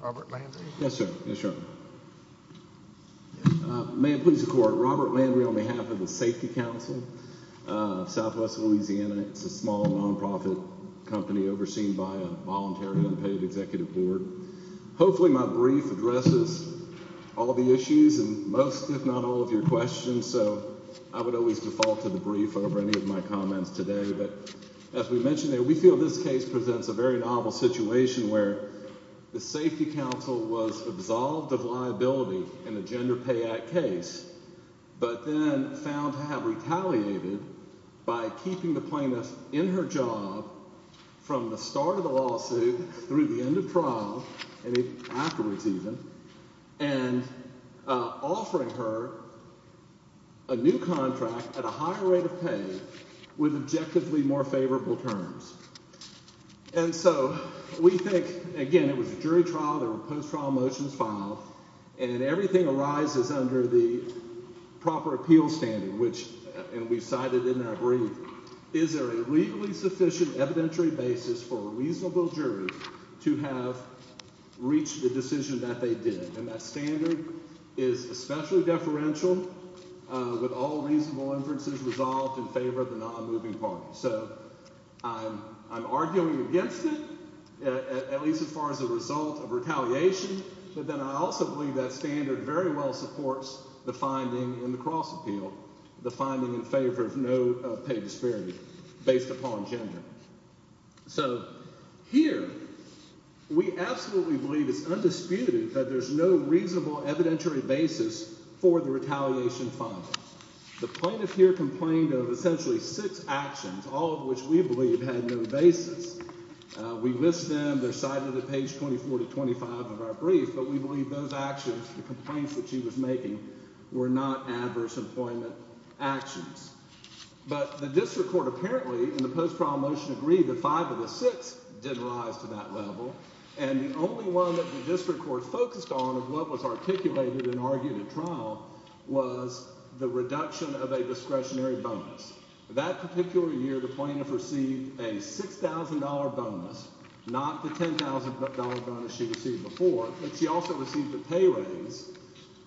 Robert Landry on behalf of the Safety Council of Southwest LA. It's a small non-profit company overseen by a voluntary unpaid executive board. Hopefully my brief addresses all the issues and most, if not all, of your questions, so I would always default to the brief over any of my comments today. But as we mentioned, we feel this case presents a very novel situation where the Safety Council was absolved of liability in the Gender Pay Act case, but then found to have retaliated by keeping the plaintiff in her job from the start of the lawsuit through the end of trial, and afterwards even, and offering her a new contract at a higher rate of pay with objectively more favorable terms. And so we think, again, it was a jury trial, there were post-trial motions filed, and everything arises under the proper appeals standard, which, and we've cited in our brief, is there a legally sufficient evidentiary basis for a reasonable jury to have reached the decision that they did. And that standard is especially deferential with all reasonable inferences resolved in favor of the non-moving party. So I'm arguing against it, at least as far as a result of retaliation, but then I also believe that standard very well supports the finding in the cross-appeal, the finding in favor of no pay disparity based upon gender. So here we absolutely believe it's undisputed that there's no reasonable evidentiary basis for the retaliation filing. The plaintiff here complained of essentially six actions, all of which we believe had no basis. We list them, they're cited at page 24 to 25 of our brief, but we believe those actions, the complaints that she was making, were not adverse employment actions. But the district court apparently, in the post-trial motion, agreed that five of the six didn't rise to that level, and the only one that the district court focused on of what was articulated and argued at trial was the reduction of a discretionary bonus. That particular year the plaintiff received a $6,000 bonus, not the $10,000 bonus she received before, but she also received a pay raise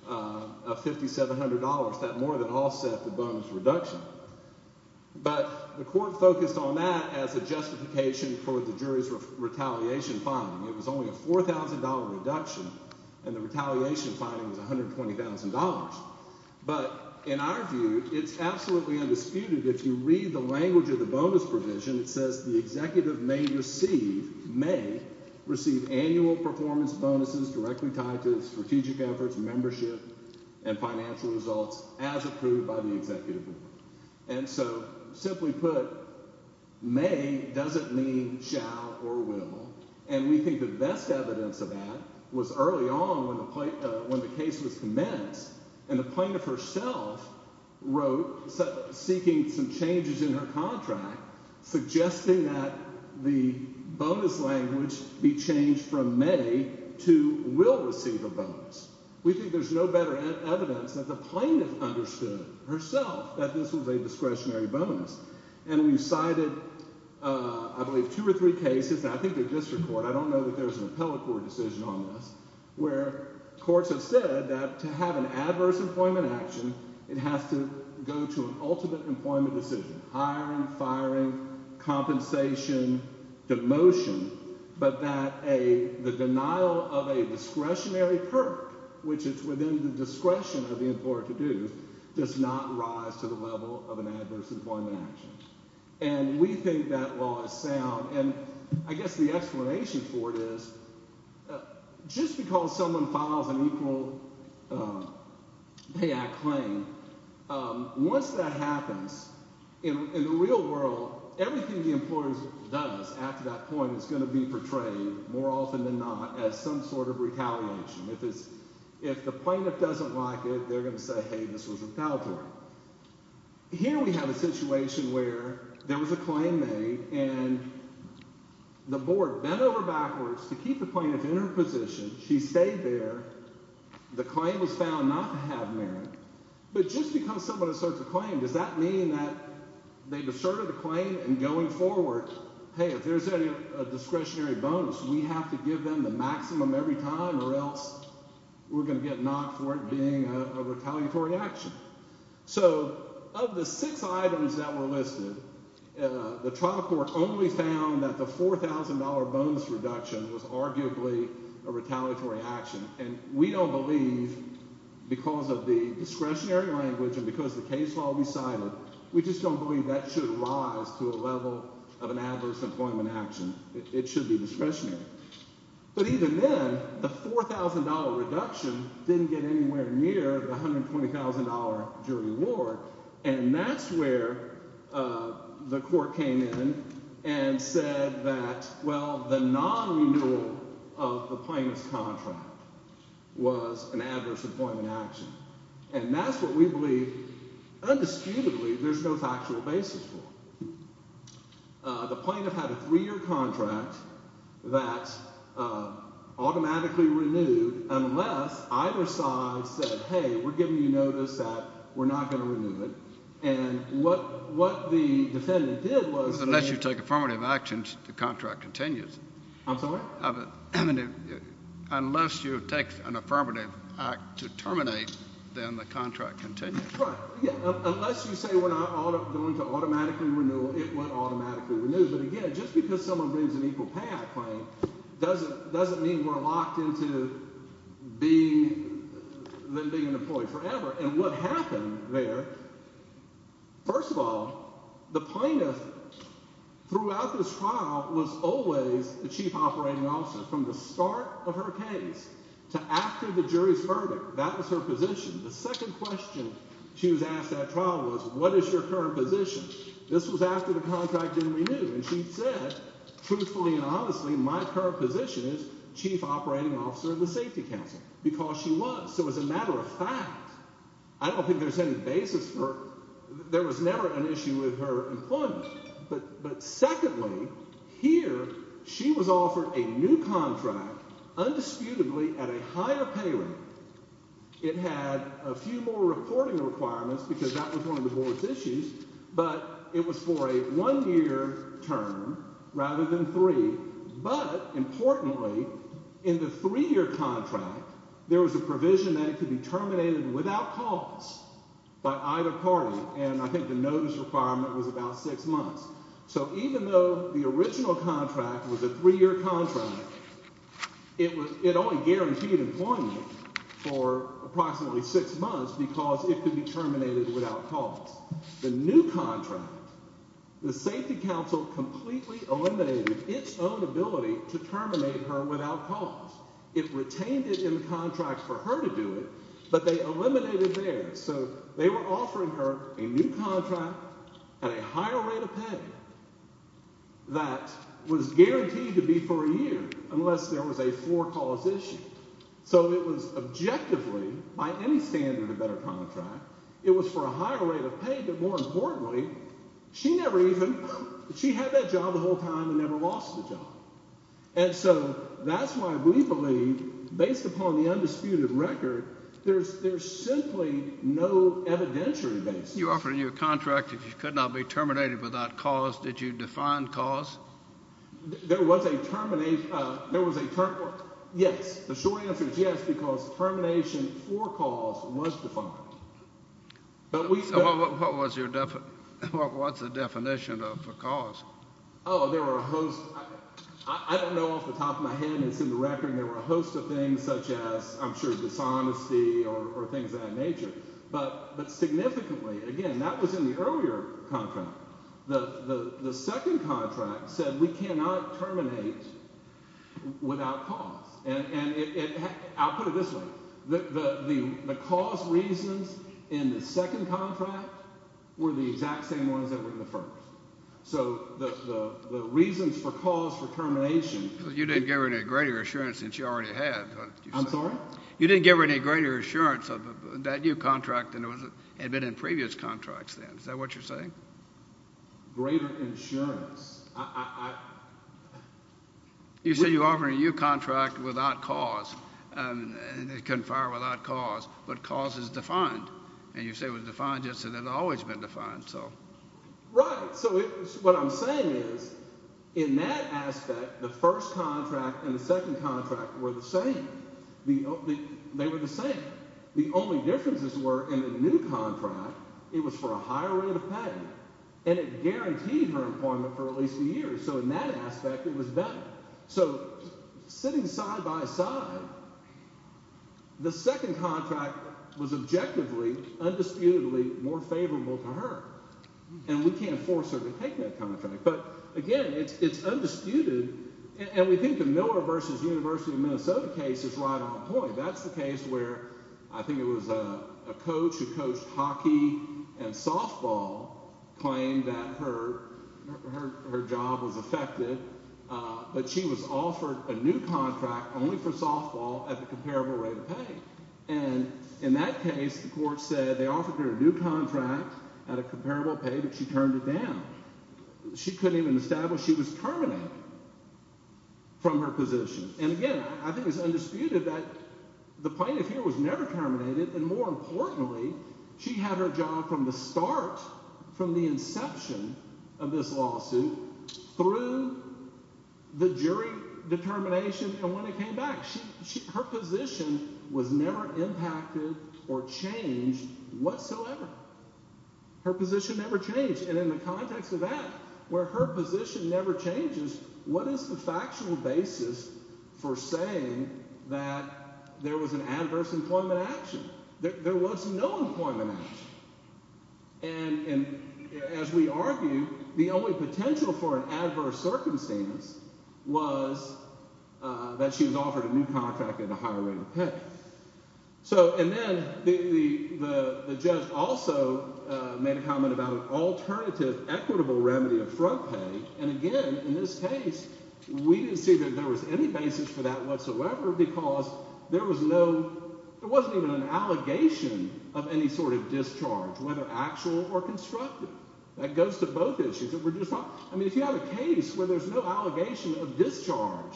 of $5,700. That more than offset the bonus reduction. But the court focused on that as a justification for the jury's retaliation filing. It was only a $4,000 reduction, and the retaliation filing was $120,000. But in our view, it's absolutely undisputed. If you read the language of the bonus provision, it says the executive may receive annual performance bonuses directly tied to strategic efforts, membership, and financial results as approved by the executive. And so, simply put, may doesn't mean shall or will, and we think the best evidence of that was early on when the case was commenced, and the plaintiff herself wrote, seeking some changes in her contract, suggesting that the bonus language be changed from may to will receive a bonus. We think there's no better evidence that the plaintiff understood herself that this was a discretionary bonus. And we've cited, I believe, two or three cases, and I think they're district court, I don't know that there's an appellate court decision on this, where courts have said that to have an adverse employment action, it has to go to an ultimate employment decision. Hiring, firing, compensation, demotion, but that the denial of a discretionary perk, which is within the discretion of the employer to do, does not rise to the level of an adverse employment action. And we think that law is sound, and I guess the explanation for it is just because someone files an equal pay act claim, once that happens, in the real world, everything the employer does after that point is going to be portrayed, more often than not, as some sort of retaliation. If the plaintiff doesn't like it, they're going to say, hey, this was a foul play. Here we have a situation where there was a claim made, and the board bent over backwards to keep the plaintiff in her position. She stayed there. The claim was found not to have merit. But just because someone asserts a claim, does that mean that they deserted the claim, and going forward, hey, if there's any discretionary bonus, we have to give them the maximum every time, or else we're going to get knocked for it being a retaliatory action. So of the six items that were listed, the trial court only found that the $4,000 bonus reduction was arguably a retaliatory action. And we don't believe, because of the discretionary language and because the case law recited, we just don't believe that should rise to a level of an adverse employment action. It should be discretionary. But even then, the $4,000 reduction didn't get anywhere near the $120,000 jury award. And that's where the court came in and said that, well, the non-renewal of the plaintiff's contract was an adverse employment action. And that's what we believe, undisputedly, there's no factual basis for. The plaintiff had a three-year contract that automatically renewed unless either side said, hey, we're giving you notice that we're not going to renew it. And what the defendant did was they— Unless you take affirmative actions, the contract continues. I'm sorry? Unless you take an affirmative act to terminate, then the contract continues. Right. Unless you say we're not going to automatically renew, it would automatically renew. But again, just because someone brings an equal payout claim doesn't mean we're locked into being an employee forever. And what happened there, first of all, the plaintiff throughout this trial was always the chief operating officer from the start of her case to after the jury's verdict. That was her position. The second question she was asked at trial was, what is your current position? This was after the contract didn't renew. And she said, truthfully and honestly, my current position is chief operating officer of the safety council because she was. So as a matter of fact, I don't think there's any basis for—there was never an issue with her employment. But secondly, here she was offered a new contract, undisputedly, at a higher pay rate. It had a few more reporting requirements because that was one of the board's issues, but it was for a one-year term rather than three. But importantly, in the three-year contract, there was a provision that it could be terminated without cause by either party. And I think the notice requirement was about six months. So even though the original contract was a three-year contract, it only guaranteed employment for approximately six months because it could be terminated without cause. The new contract, the safety council completely eliminated its own ability to terminate her without cause. It retained it in the contract for her to do it, but they eliminated theirs. So they were offering her a new contract at a higher rate of pay that was guaranteed to be for a year unless there was a for-cause issue. So it was objectively, by any standard, a better contract. It was for a higher rate of pay, but more importantly, she never even—she had that job the whole time and never lost the job. And so that's why we believe, based upon the undisputed record, there's simply no evidentiary basis. You offered her a new contract if she could not be terminated without cause. Did you define cause? There was a—yes. The short answer is yes because termination for cause was defined. Oh, there were a host—I don't know off the top of my head. It's in the record. There were a host of things such as, I'm sure, dishonesty or things of that nature. But significantly, again, that was in the earlier contract. The second contract said we cannot terminate without cause, and I'll put it this way. The cause reasons in the second contract were the exact same ones that were in the first. So the reasons for cause for termination— You didn't give her any greater assurance than she already had. I'm sorry? You didn't give her any greater assurance of that new contract than it had been in previous contracts then. Is that what you're saying? Greater insurance. You said you offered her a new contract without cause, and it couldn't fire without cause, but cause is defined. And you say it was defined just as it had always been defined. Right. So what I'm saying is in that aspect, the first contract and the second contract were the same. They were the same. The only differences were in the new contract, it was for a higher rate of pay, and it guaranteed her employment for at least a year. So in that aspect, it was better. So sitting side by side, the second contract was objectively, undisputedly more favorable to her, and we can't force her to take that contract. But again, it's undisputed, and we think the Miller v. University of Minnesota case is right on point. That's the case where I think it was a coach who coached hockey and softball claimed that her job was affected, but she was offered a new contract only for softball at the comparable rate of pay. And in that case, the court said they offered her a new contract at a comparable pay, but she turned it down. She couldn't even establish she was terminated from her position. And again, I think it's undisputed that the plaintiff here was never terminated, and more importantly, she had her job from the start, from the inception of this lawsuit, through the jury determination and when it came back. Her position was never impacted or changed whatsoever. Her position never changed, and in the context of that, where her position never changes, what is the factual basis for saying that there was an adverse employment action? There was no employment action. And as we argue, the only potential for an adverse circumstance was that she was offered a new contract at a higher rate of pay. And then the judge also made a comment about an alternative equitable remedy of front pay, and again, in this case, we didn't see that there was any basis for that whatsoever because there was no—there wasn't even an allegation of any sort of discharge, whether actual or constructive. That goes to both issues. I mean, if you have a case where there's no allegation of discharge,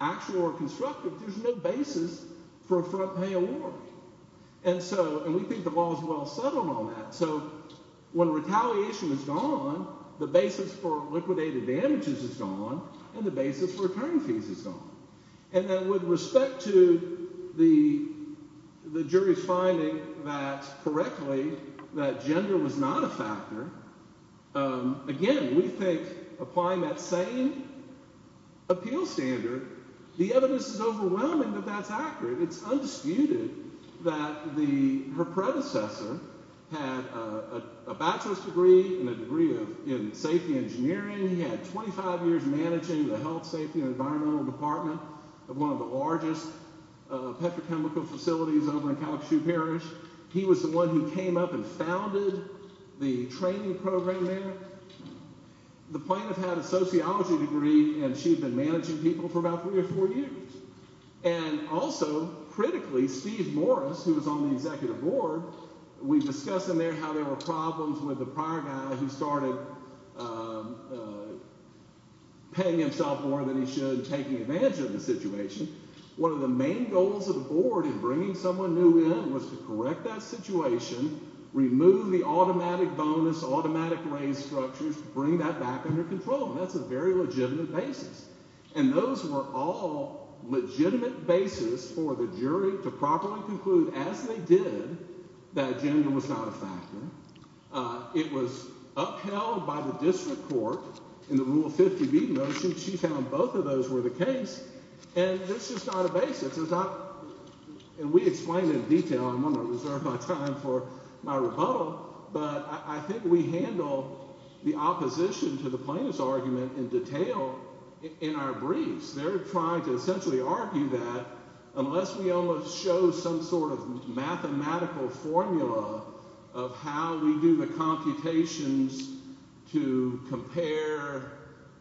actual or constructive, there's no basis for a front pay award. And so—and we think the law is well settled on that. So when retaliation is gone, the basis for liquidated damages is gone, and the basis for return fees is gone. And then with respect to the jury's finding that correctly that gender was not a factor, again, we think applying that same appeal standard, the evidence is overwhelming that that's accurate. It's undisputed that the—her predecessor had a bachelor's degree and a degree in safety engineering. He had 25 years managing the health, safety, and environmental department of one of the largest petrochemical facilities over in Kalachu Parish. He was the one who came up and founded the training program there. The plaintiff had a sociology degree, and she had been managing people for about three or four years. And also, critically, Steve Morris, who was on the executive board, we discussed in there how there were problems with the prior guy who started paying himself more than he should and taking advantage of the situation. One of the main goals of the board in bringing someone new in was to correct that situation, remove the automatic bonus, automatic raise structures, bring that back under control. And that's a very legitimate basis. And those were all legitimate basis for the jury to properly conclude, as they did, that gender was not a factor. It was upheld by the district court in the Rule 50B motion. She found both of those were the case. And that's just not a basis. It's not—and we explained in detail. I'm going to reserve my time for my rebuttal. But I think we handle the opposition to the plaintiff's argument in detail in our briefs. They're trying to essentially argue that unless we almost show some sort of mathematical formula of how we do the computations to compare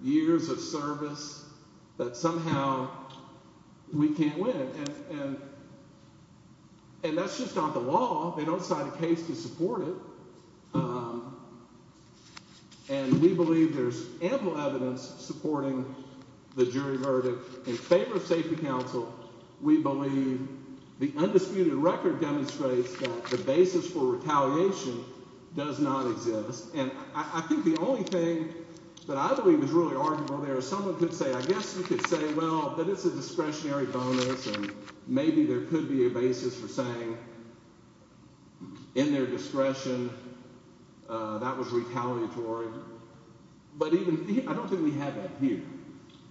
years of service, that somehow we can't win. And that's just not the law. They don't cite a case to support it. And we believe there's ample evidence supporting the jury verdict. In favor of safety counsel, we believe the undisputed record demonstrates that the basis for retaliation does not exist. And I think the only thing that I believe is really arguable there is someone could say, I guess you could say, well, that it's a discretionary bonus. Maybe there could be a basis for saying in their discretion that was retaliatory. But even—I don't think we have that here.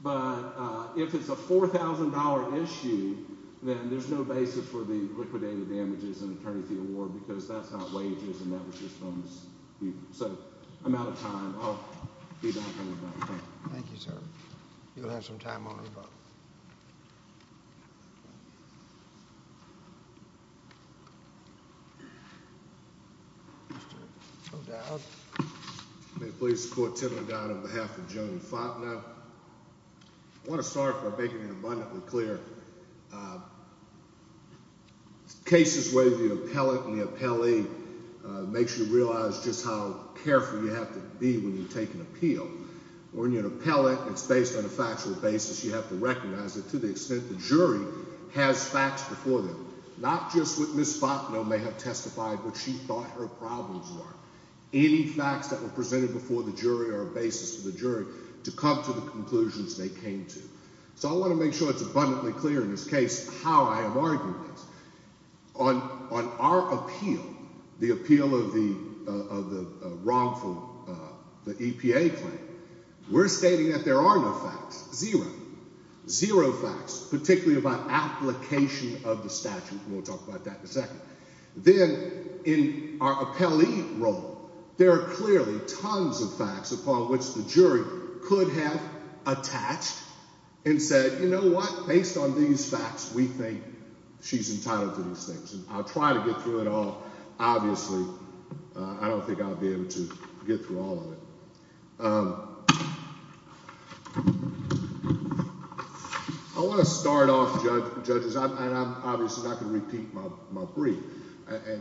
But if it's a $4,000 issue, then there's no basis for the liquidated damages in terms of the award because that's not wages and that was just bonus. So I'm out of time. I'll be back on the bench. Thank you. Thank you, sir. You'll have some time on your own. Mr. O'Dowd. May it please the court, Tim O'Dowd on behalf of Joan Faulkner. I want to start by making it abundantly clear. Cases where the appellate and the appellee makes you realize just how careful you have to be when you take an appeal. When you're an appellate, it's based on a factual basis. You have to recognize it to the extent the jury has facts before them, not just what Ms. Faulkner may have testified, but she thought her problems were. Any facts that were presented before the jury are a basis for the jury to come to the conclusions they came to. So I want to make sure it's abundantly clear in this case how I am arguing this. On our appeal, the appeal of the wrongful EPA claim, we're stating that there are no facts. Zero. Zero facts, particularly about application of the statute. Then in our appellee role, there are clearly tons of facts upon which the jury could have attached and said, you know what? Based on these facts, we think she's entitled to these things. And I'll try to get through it all. Obviously, I don't think I'll be able to get through all of it. I want to start off, judges, and I'm obviously not going to repeat my brief.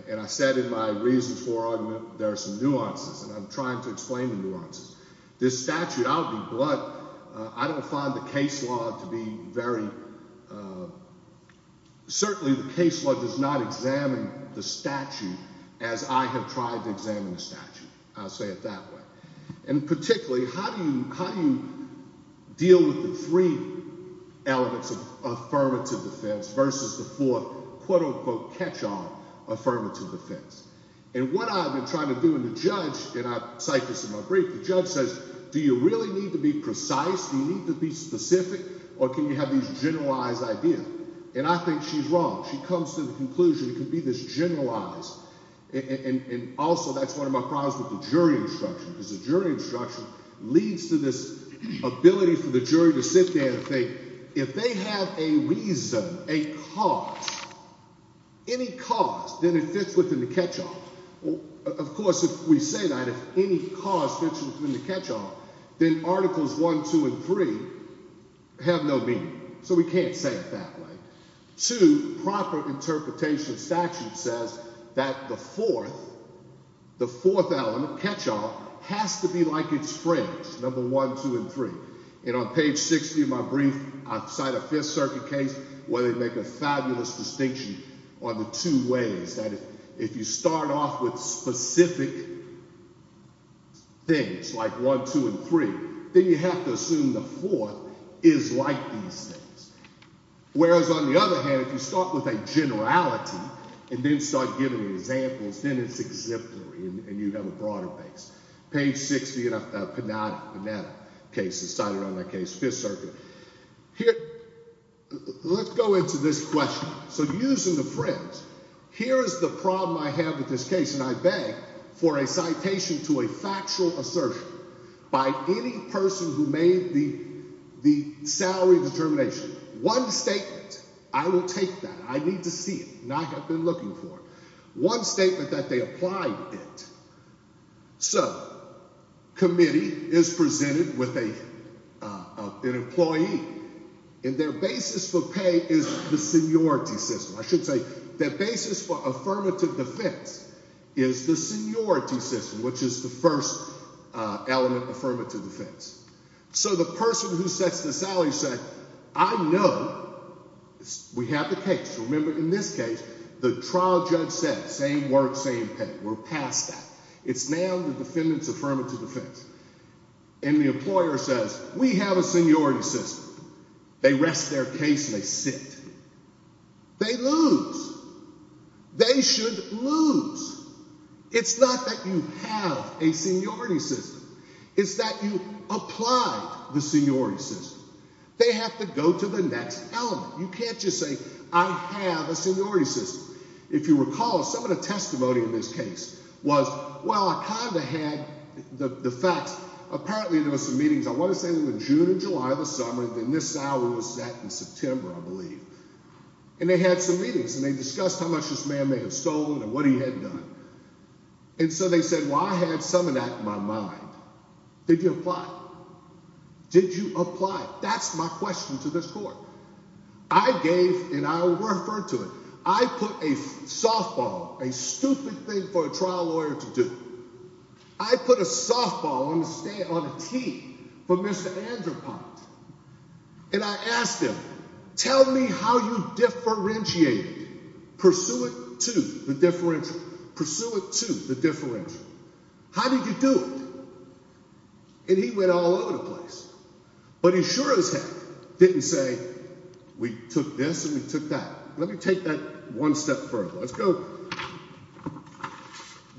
And I said in my reasons for argument there are some nuances, and I'm trying to explain the nuances. This statute, I'll be blunt. I don't find the case law to be very – certainly the case law does not examine the statute as I have tried to examine the statute. I'll say it that way. And particularly, how do you deal with the three elements of affirmative defense versus the four, quote-unquote, catch-all affirmative defense? And what I've been trying to do in the judge – and I cite this in my brief – the judge says, do you really need to be precise? Do you need to be specific? Or can you have these generalized ideas? And I think she's wrong. She comes to the conclusion it could be this generalized. And also that's one of my problems with the jury instruction because the jury instruction leads to this ability for the jury to sit there and think if they have a reason, a cause, any cause, then it fits within the catch-all. Of course, if we say that, if any cause fits within the catch-all, then Articles 1, 2, and 3 have no meaning. So we can't say it that way. Two, proper interpretation of statute says that the fourth, the fourth element, catch-all, has to be like its friends, number 1, 2, and 3. And on page 60 of my brief, I cite a Fifth Circuit case where they make a fabulous distinction on the two ways that if you start off with specific things like 1, 2, and 3, then you have to assume the fourth is like these things. Whereas on the other hand, if you start with a generality and then start giving examples, then it's exemplary and you have a broader base. Page 60 of the Panetta case, I cited on that case, Fifth Circuit. Here, let's go into this question. So using the friends, here is the problem I have with this case, and I beg for a citation to a factual assertion by any person who made the salary determination. One statement, I will take that. I need to see it, and I have been looking for it. One statement that they applied it. So, committee is presented with an employee, and their basis for pay is the seniority system. I should say their basis for affirmative defense is the seniority system, which is the first element of affirmative defense. So the person who sets the salary said, I know we have the case. Remember, in this case, the trial judge said, same work, same pay. We're past that. It's now the defendant's affirmative defense. And the employer says, we have a seniority system. They rest their case and they sit. They lose. They should lose. It's not that you have a seniority system. It's that you applied the seniority system. They have to go to the next element. You can't just say, I have a seniority system. If you recall, some of the testimony in this case was, well, I kind of had the facts. Apparently, there were some meetings, I want to say in June and July of the summer, and this salary was set in September, I believe. And they had some meetings, and they discussed how much this man may have stolen and what he had done. And so they said, well, I had some of that in my mind. Did you apply? Did you apply? That's my question to this court. I gave and I referred to it. I put a softball, a stupid thing for a trial lawyer to do. I put a softball on the stand on a tee for Mr. Andropov. And I asked him, tell me how you differentiate it. Pursue it to the differential. Pursue it to the differential. How did you do it? And he went all over the place. But he sure as heck didn't say, we took this and we took that. Let me take that one step further.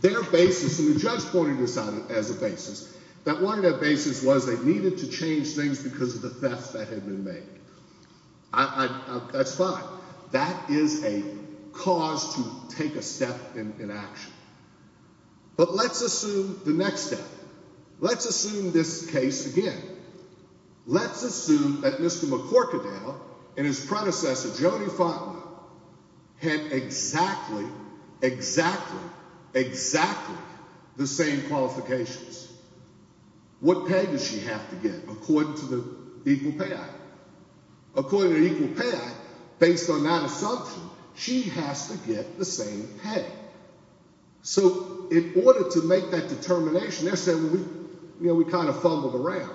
Their basis, and the judge pointed this out as a basis, that one of their basis was they needed to change things because of the theft that had been made. That's fine. That is a cause to take a step in action. But let's assume the next step. Let's assume this case again. Let's assume that Mr. McCorkadale and his predecessor, Jody Faulkner, had exactly, exactly, exactly the same qualifications. What pay does she have to get according to the Equal Pay Act? According to the Equal Pay Act, based on that assumption, she has to get the same pay. So in order to make that determination, they're saying we kind of fumbled around.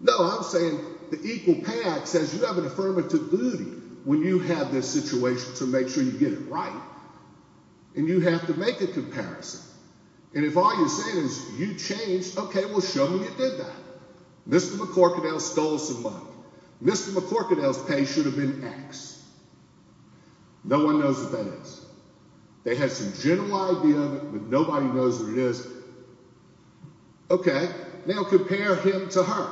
No, I'm saying the Equal Pay Act says you have an affirmative duty when you have this situation to make sure you get it right. And you have to make a comparison. And if all you're saying is you changed, okay, well, show me you did that. Mr. McCorkadale stole some money. Mr. McCorkadale's pay should have been X. No one knows what that is. They had some general idea of it, but nobody knows what it is. Okay, now compare him to her.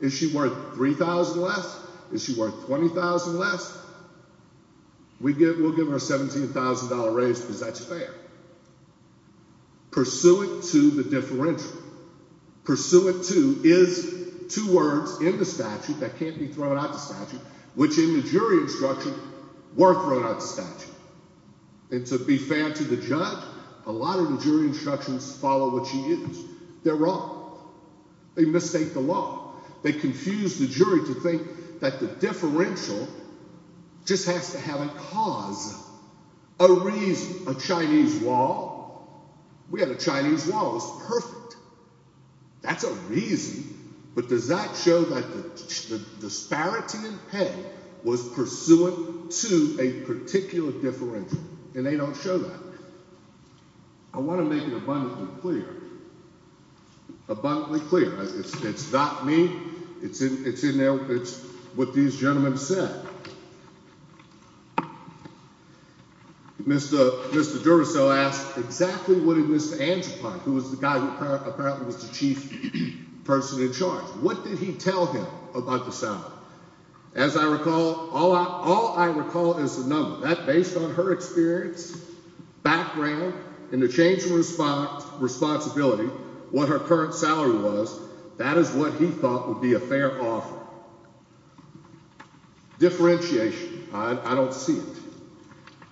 Is she worth $3,000 less? Is she worth $20,000 less? We'll give her a $17,000 raise because that's fair. Pursuant to the differential. Pursuant to is two words in the statute that can't be thrown out of the statute, which in the jury instruction were thrown out of the statute. And to be fair to the judge, a lot of the jury instructions follow what she used. They're wrong. They mistake the law. They confuse the jury to think that the differential just has to have a cause, a reason. A Chinese law. We had a Chinese law. It was perfect. That's a reason. But does that show that the disparity in pay was pursuant to a particular differential? And they don't show that. I want to make it abundantly clear. Abundantly clear. It's not me. It's in there. It's what these gentlemen said. Mr. Mr. Duracell asked exactly what it was to answer. Who was the guy who apparently was the chief person in charge? What did he tell him about the sound? As I recall, all I all I recall is a number that based on her experience, background in the changing response, responsibility, what her current salary was. That is what he thought would be a fair offer. Differentiation. I don't see it.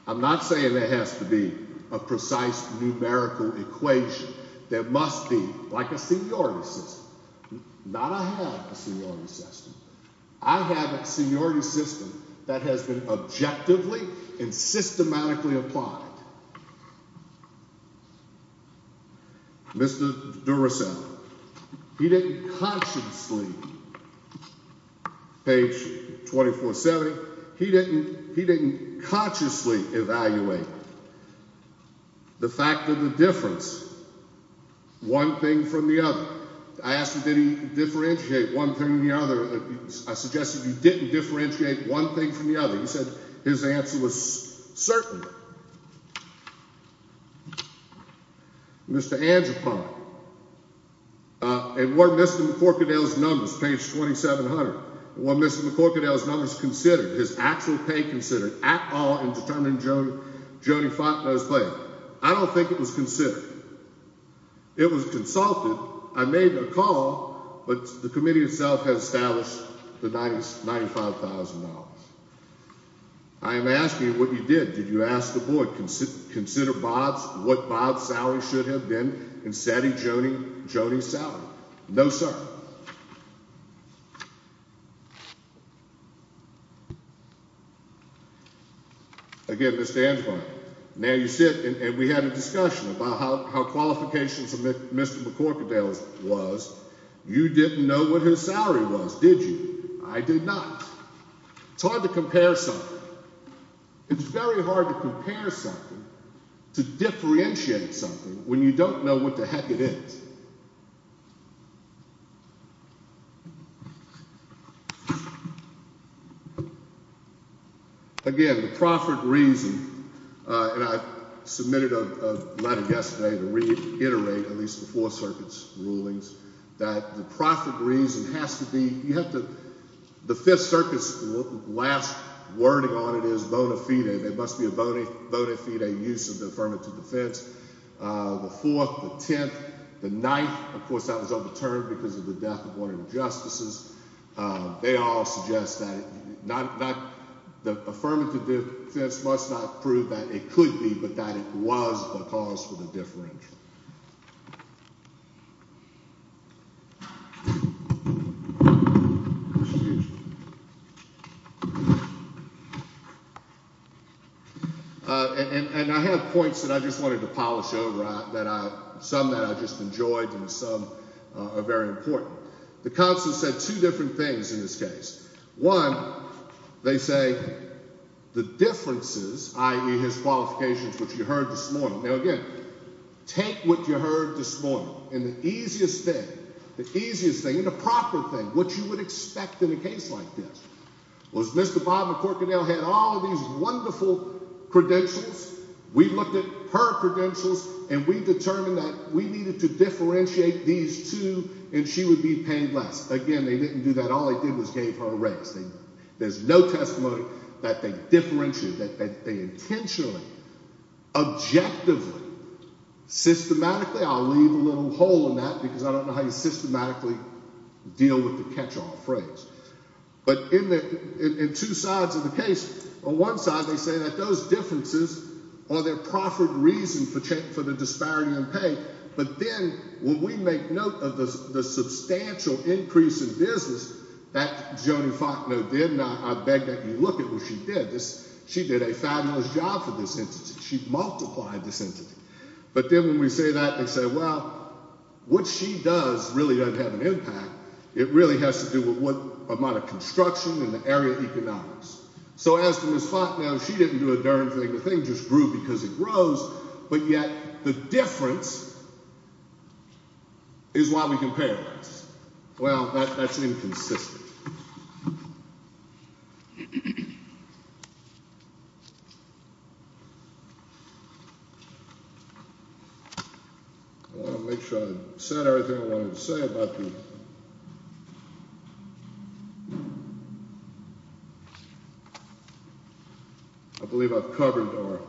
I'm not saying there has to be a precise numerical equation. There must be like a seniority system. Not a seniority system. I have a seniority system that has been objectively and systematically applied. Mr. Duracell. He didn't consciously. Page 2470. He didn't. He didn't consciously evaluate. The fact of the difference. One thing from the other. I asked him, did he differentiate one thing from the other? I suggested you didn't differentiate one thing from the other. He said his answer was certain. Mr. And what Mr. Corkadel's numbers. Page 2700. Mr. Corkadel's numbers considered his actual pay considered at all in determining Joe Jody. I don't think it was considered. It was consulted. I made a call, but the committee itself has established the 90s. $95,000. I am asking what you did. Did you ask the board? Consider Bob's. What Bob's salary should have been in setting Jody Jody's salary. No, sir. Again, Mr. And now you sit and we had a discussion about how qualifications of Mr. Corkadel's was. You didn't know what his salary was. Did you? I did not. It's hard to compare some. It's very hard to compare something to differentiate something when you don't know what the heck it is. Again, the profit reason and I submitted a letter yesterday to reiterate at least before circuits rulings that the profit reason has to be you have to the way on it is bona fide. There must be a boni bona fide use of the affirmative defense. The 4th, the 10th, the 9th, of course, that was overturned because of the death of one of the justices. They all suggest that not that the affirmative defense must not prove that it could be, but that it was the cause for the differential. And I have points that I just wanted to polish over that I some that I just enjoyed and some are very important. The council said two different things in this case. One, they say the differences, i.e. his qualifications, which you heard this morning. Now, again, take what you heard this morning in the easiest thing, the easiest thing, the proper thing, what you would expect in a case like this was Mr. Bob McCorkadel had all these wonderful credentials. We looked at her credentials and we determined that we needed to differentiate these two and she would be paying less. Again, they didn't do that. All they did was gave her a raise. There's no testimony that they differentiate that they intentionally objectively systematically. I'll leave a little hole in that because I don't know how you systematically deal with the catch all phrase. But in two sides of the case, on one side, they say that those differences are their proffered reason for the disparity in pay. But then when we make note of the substantial increase in business that Joni Faulkner did, and I beg that you look at what she did, she did a fabulous job for this entity. She multiplied this entity. But then when we say that, they say, well, what she does really doesn't have an impact. It really has to do with what amount of construction and the area economics. So as to Ms. Faulkner, she didn't do a darn thing. The thing just grew because it grows. But yet the difference is why we compare. Well, that's inconsistent. I want to make sure I said everything I wanted to say about the. I believe I've covered or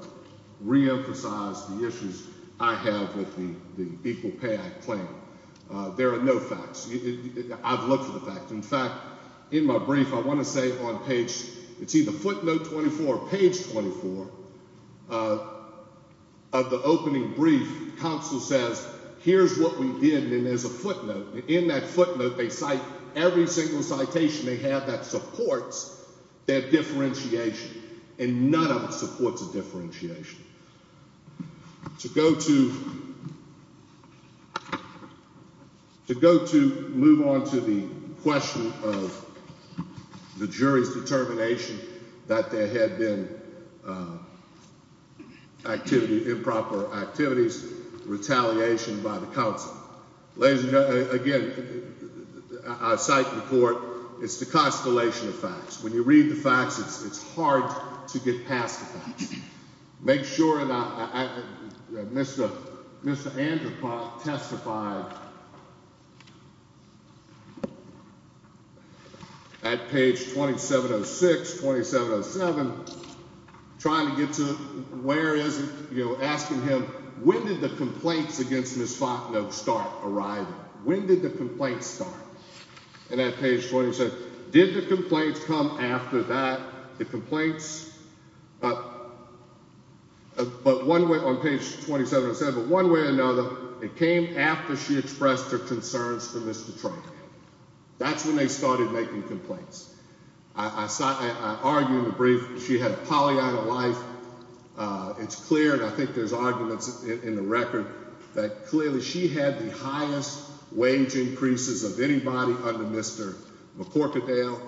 reemphasized the issues I have with the people pay plan. There are no facts. I've looked at the fact. In fact, in my brief, I want to say on page it's either footnote 24 page 24 of the opening brief. Counsel says, here's what we did. And there's a footnote in that footnote. They cite every single citation they have that supports that differentiation. And none of us supports a differentiation to go to. To go to move on to the question of the jury's determination that there had been activity, improper activities, retaliation by the council. Ladies and gentlemen, again, I cite the court. It's the constellation of facts. When you read the facts, it's hard to get past. Make sure. Mr. Mr. Andrew testified. At page twenty seven oh six. Twenty seven oh seven. Trying to get to. Where is it? You're asking him. When did the complaints against Ms. Faulkner start arriving? When did the complaints start? And that page twenty six. Did the complaints come after that? The complaints. But one way on page twenty seven said, but one way or another, it came after she expressed her concerns for Mr. Trump. That's when they started making complaints. I saw. I argue in the brief. She had a Pollyanna life. It's clear. And I think there's arguments in the record that clearly she had the highest wage increases of anybody under Mr. McCorkadale.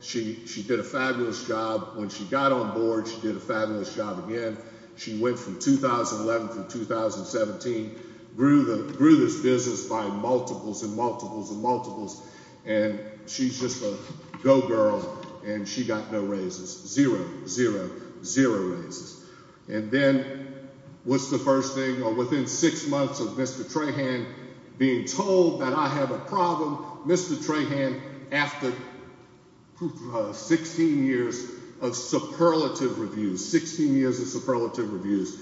She. She did a fabulous job when she got on board. She did a fabulous job again. She went from 2011 to 2017, grew the greatest business by multiples and multiples and multiples. And she's just a go girl. And she got no raises. Zero, zero, zero raises. And then what's the first thing? Or within six months of Mr. Trahan being told that I have a problem. Mr. Trahan, after 16 years of superlative reviews, 16 years of superlative reviews,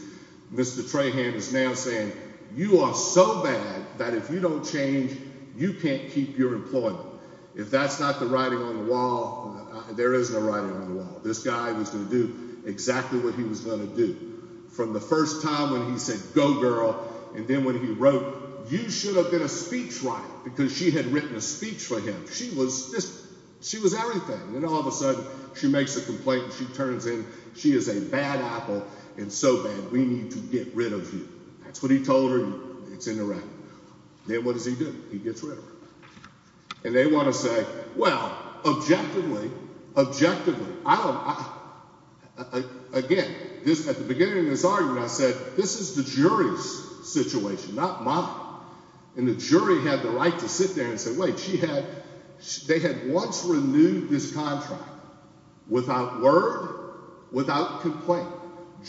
Mr. Trahan is now saying you are so bad that if you don't change, you can't keep your employment. If that's not the writing on the wall, there is no writing on the wall. This guy was going to do exactly what he was going to do from the first time when he said, go girl. And then when he wrote, you should have been a speech writer because she had written a speech for him. She was this. She was everything. And all of a sudden she makes a complaint. She turns in. She is a bad apple. And so bad. We need to get rid of you. That's what he told her. It's in the record. Then what does he do? He gets rid of her. And they want to say, well, objectively, objectively, I don't. Again, this at the beginning of this argument, I said, this is the jury's situation, not mine. And the jury had the right to sit there and say, wait, she had, they had once renewed this contract without word, without complaint.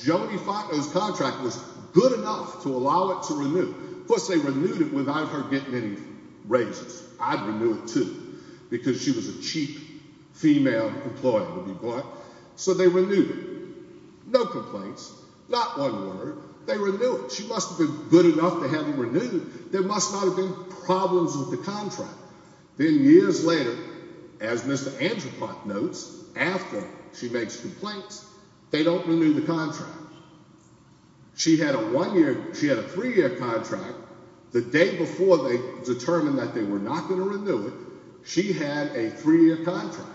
Jody Farkner's contract was good enough to allow it to renew. Of course, they renewed it without her getting any raises. I'd renew it, too, because she was a cheap female employee. So they renewed it. No complaints. Not one word. They renew it. She must have been good enough to have it renewed. There must not have been problems with the contract. Then years later, as Mr. Angel Park notes, after she makes complaints, they don't renew the contract. She had a one-year, she had a three-year contract. The day before they determined that they were not going to renew it, she had a three-year contract.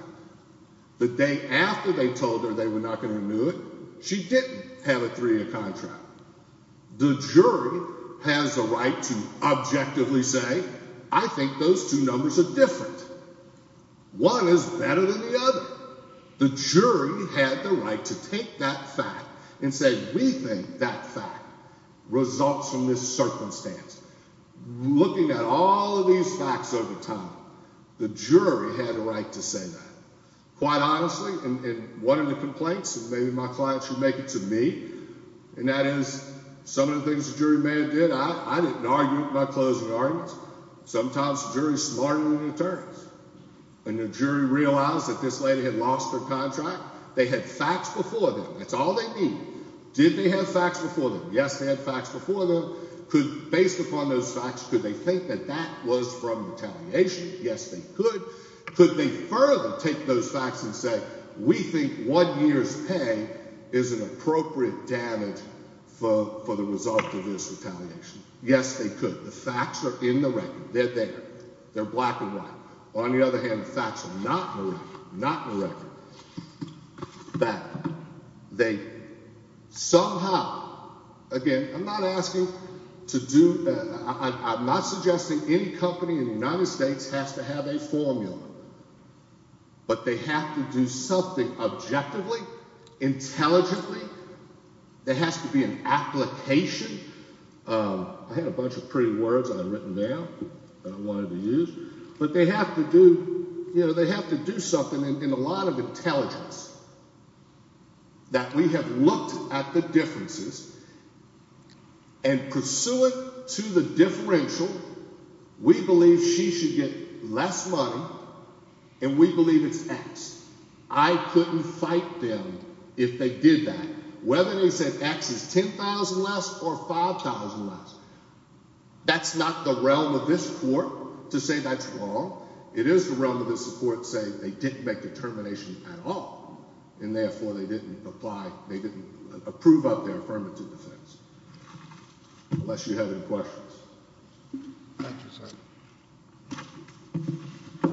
The day after they told her they were not going to renew it, she didn't have a three-year contract. The jury has a right to objectively say, I think those two numbers are different. One is better than the other. The jury had the right to take that fact and say, we think that fact results from this circumstance. Looking at all of these facts over time, the jury had a right to say that. Quite honestly, and one of the complaints, and maybe my client should make it to me, and that is some of the things the jury may have did, I didn't argue it in my closing arguments. Sometimes the jury is smarter than the attorneys. And the jury realized that this lady had lost her contract. They had facts before them. That's all they need. Did they have facts before them? Yes, they had facts before them. Based upon those facts, could they think that that was from retaliation? Yes, they could. Could they further take those facts and say, we think one year's pay is an appropriate damage for the result of this retaliation? Yes, they could. The facts are in the record. They're there. They're black and white. On the other hand, the facts are not in the record. Not in the record. That they somehow, again, I'm not asking to do, I'm not suggesting any company in the United States has to have a formula. But they have to do something objectively, intelligently. There has to be an application. I had a bunch of pretty words I'd written down that I wanted to use. But they have to do, you know, they have to do something in a lot of intelligence that we have looked at the differences and pursuant to the And we believe it's X. I couldn't fight them if they did that. Whether they said X is 10,000 less or 5,000 less. That's not the realm of this court to say that's wrong. It is the realm of the support saying they didn't make determination at all. And therefore they didn't apply. They didn't approve of their affirmative defense. Unless you have any questions. Thank you, sir.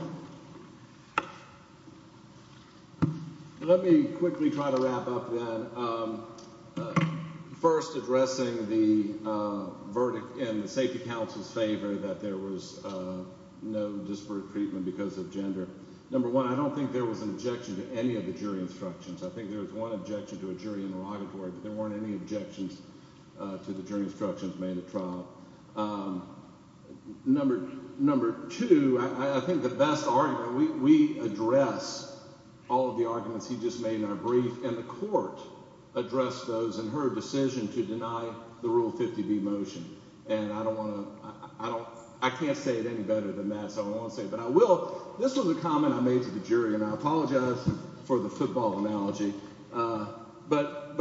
Let me quickly try to wrap up then. First, addressing the verdict in the safety counsel's favor that there was no disparate treatment because of gender. Number one, I don't think there was an objection to any of the jury instructions. I think there was one objection to a jury interrogatory, but there weren't any objections to the jury instructions made at trial. Number two, I think the best argument, we address all of the arguments he just made in our brief, and the court addressed those in her decision to deny the Rule 50B motion. And I can't say it any better than that, so I won't say it, but I will. This was a comment I made to the jury, and I apologize for the football analogy, but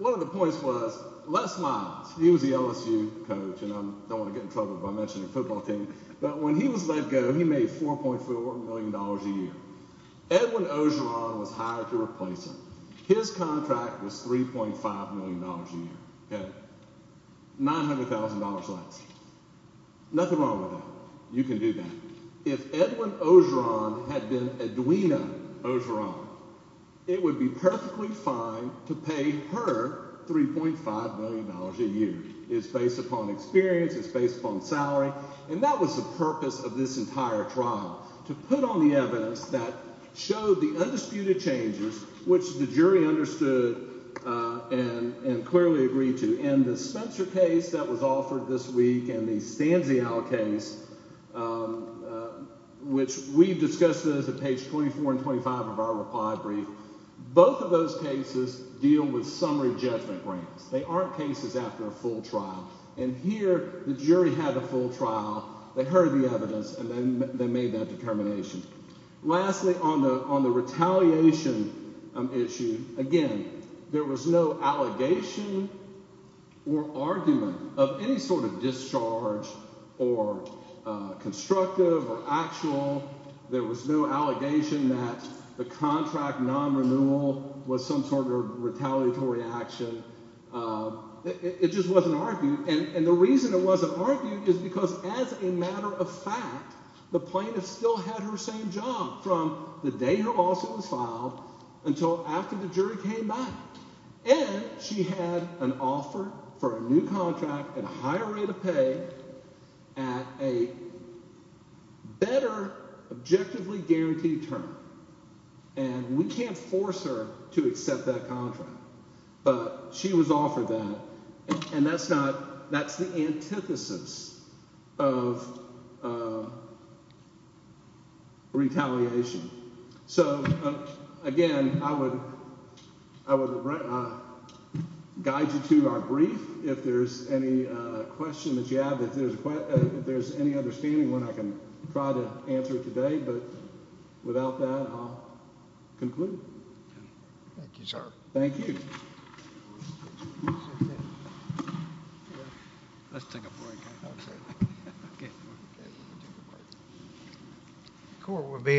one of the points was, Les Miles, he was the LSU coach. And I don't want to get in trouble if I mention the football team. But when he was let go, he made $4.4 million a year. Edwin Ogeron was hired to replace him. His contract was $3.5 million a year. $900,000 less. Nothing wrong with that. You can do that. If Edwin Ogeron had been Edwina Ogeron, it would be perfectly fine to pay her $3.5 million a year. It's based upon experience. It's based upon salary. And that was the purpose of this entire trial, to put on the evidence that showed the undisputed changes, which the jury understood and clearly agreed to. And the Spencer case that was offered this week and the Stanzial case, which we discussed those at page 24 and 25 of our reply brief, both of those cases deal with summary judgment grants. They aren't cases after a full trial. And here, the jury had the full trial. They heard the evidence, and they made that determination. Lastly, on the retaliation issue, again, there was no allegation or argument of any sort of discharge or constructive or actual. There was no allegation that the contract non-renewal was some sort of It just wasn't argued. And the reason it wasn't argued is because as a matter of fact, the plaintiff still had her same job from the day her lawsuit was filed until after the jury came back. And she had an offer for a new contract at a higher rate of pay at a better objectively guaranteed term. And we can't force her to accept that contract. But she was offered that. And that's the antithesis of retaliation. So, again, I would guide you to our brief if there's any question that you have, if there's any understanding of what I can try to answer today. But without that, I'll conclude. Thank you, sir. Thank you.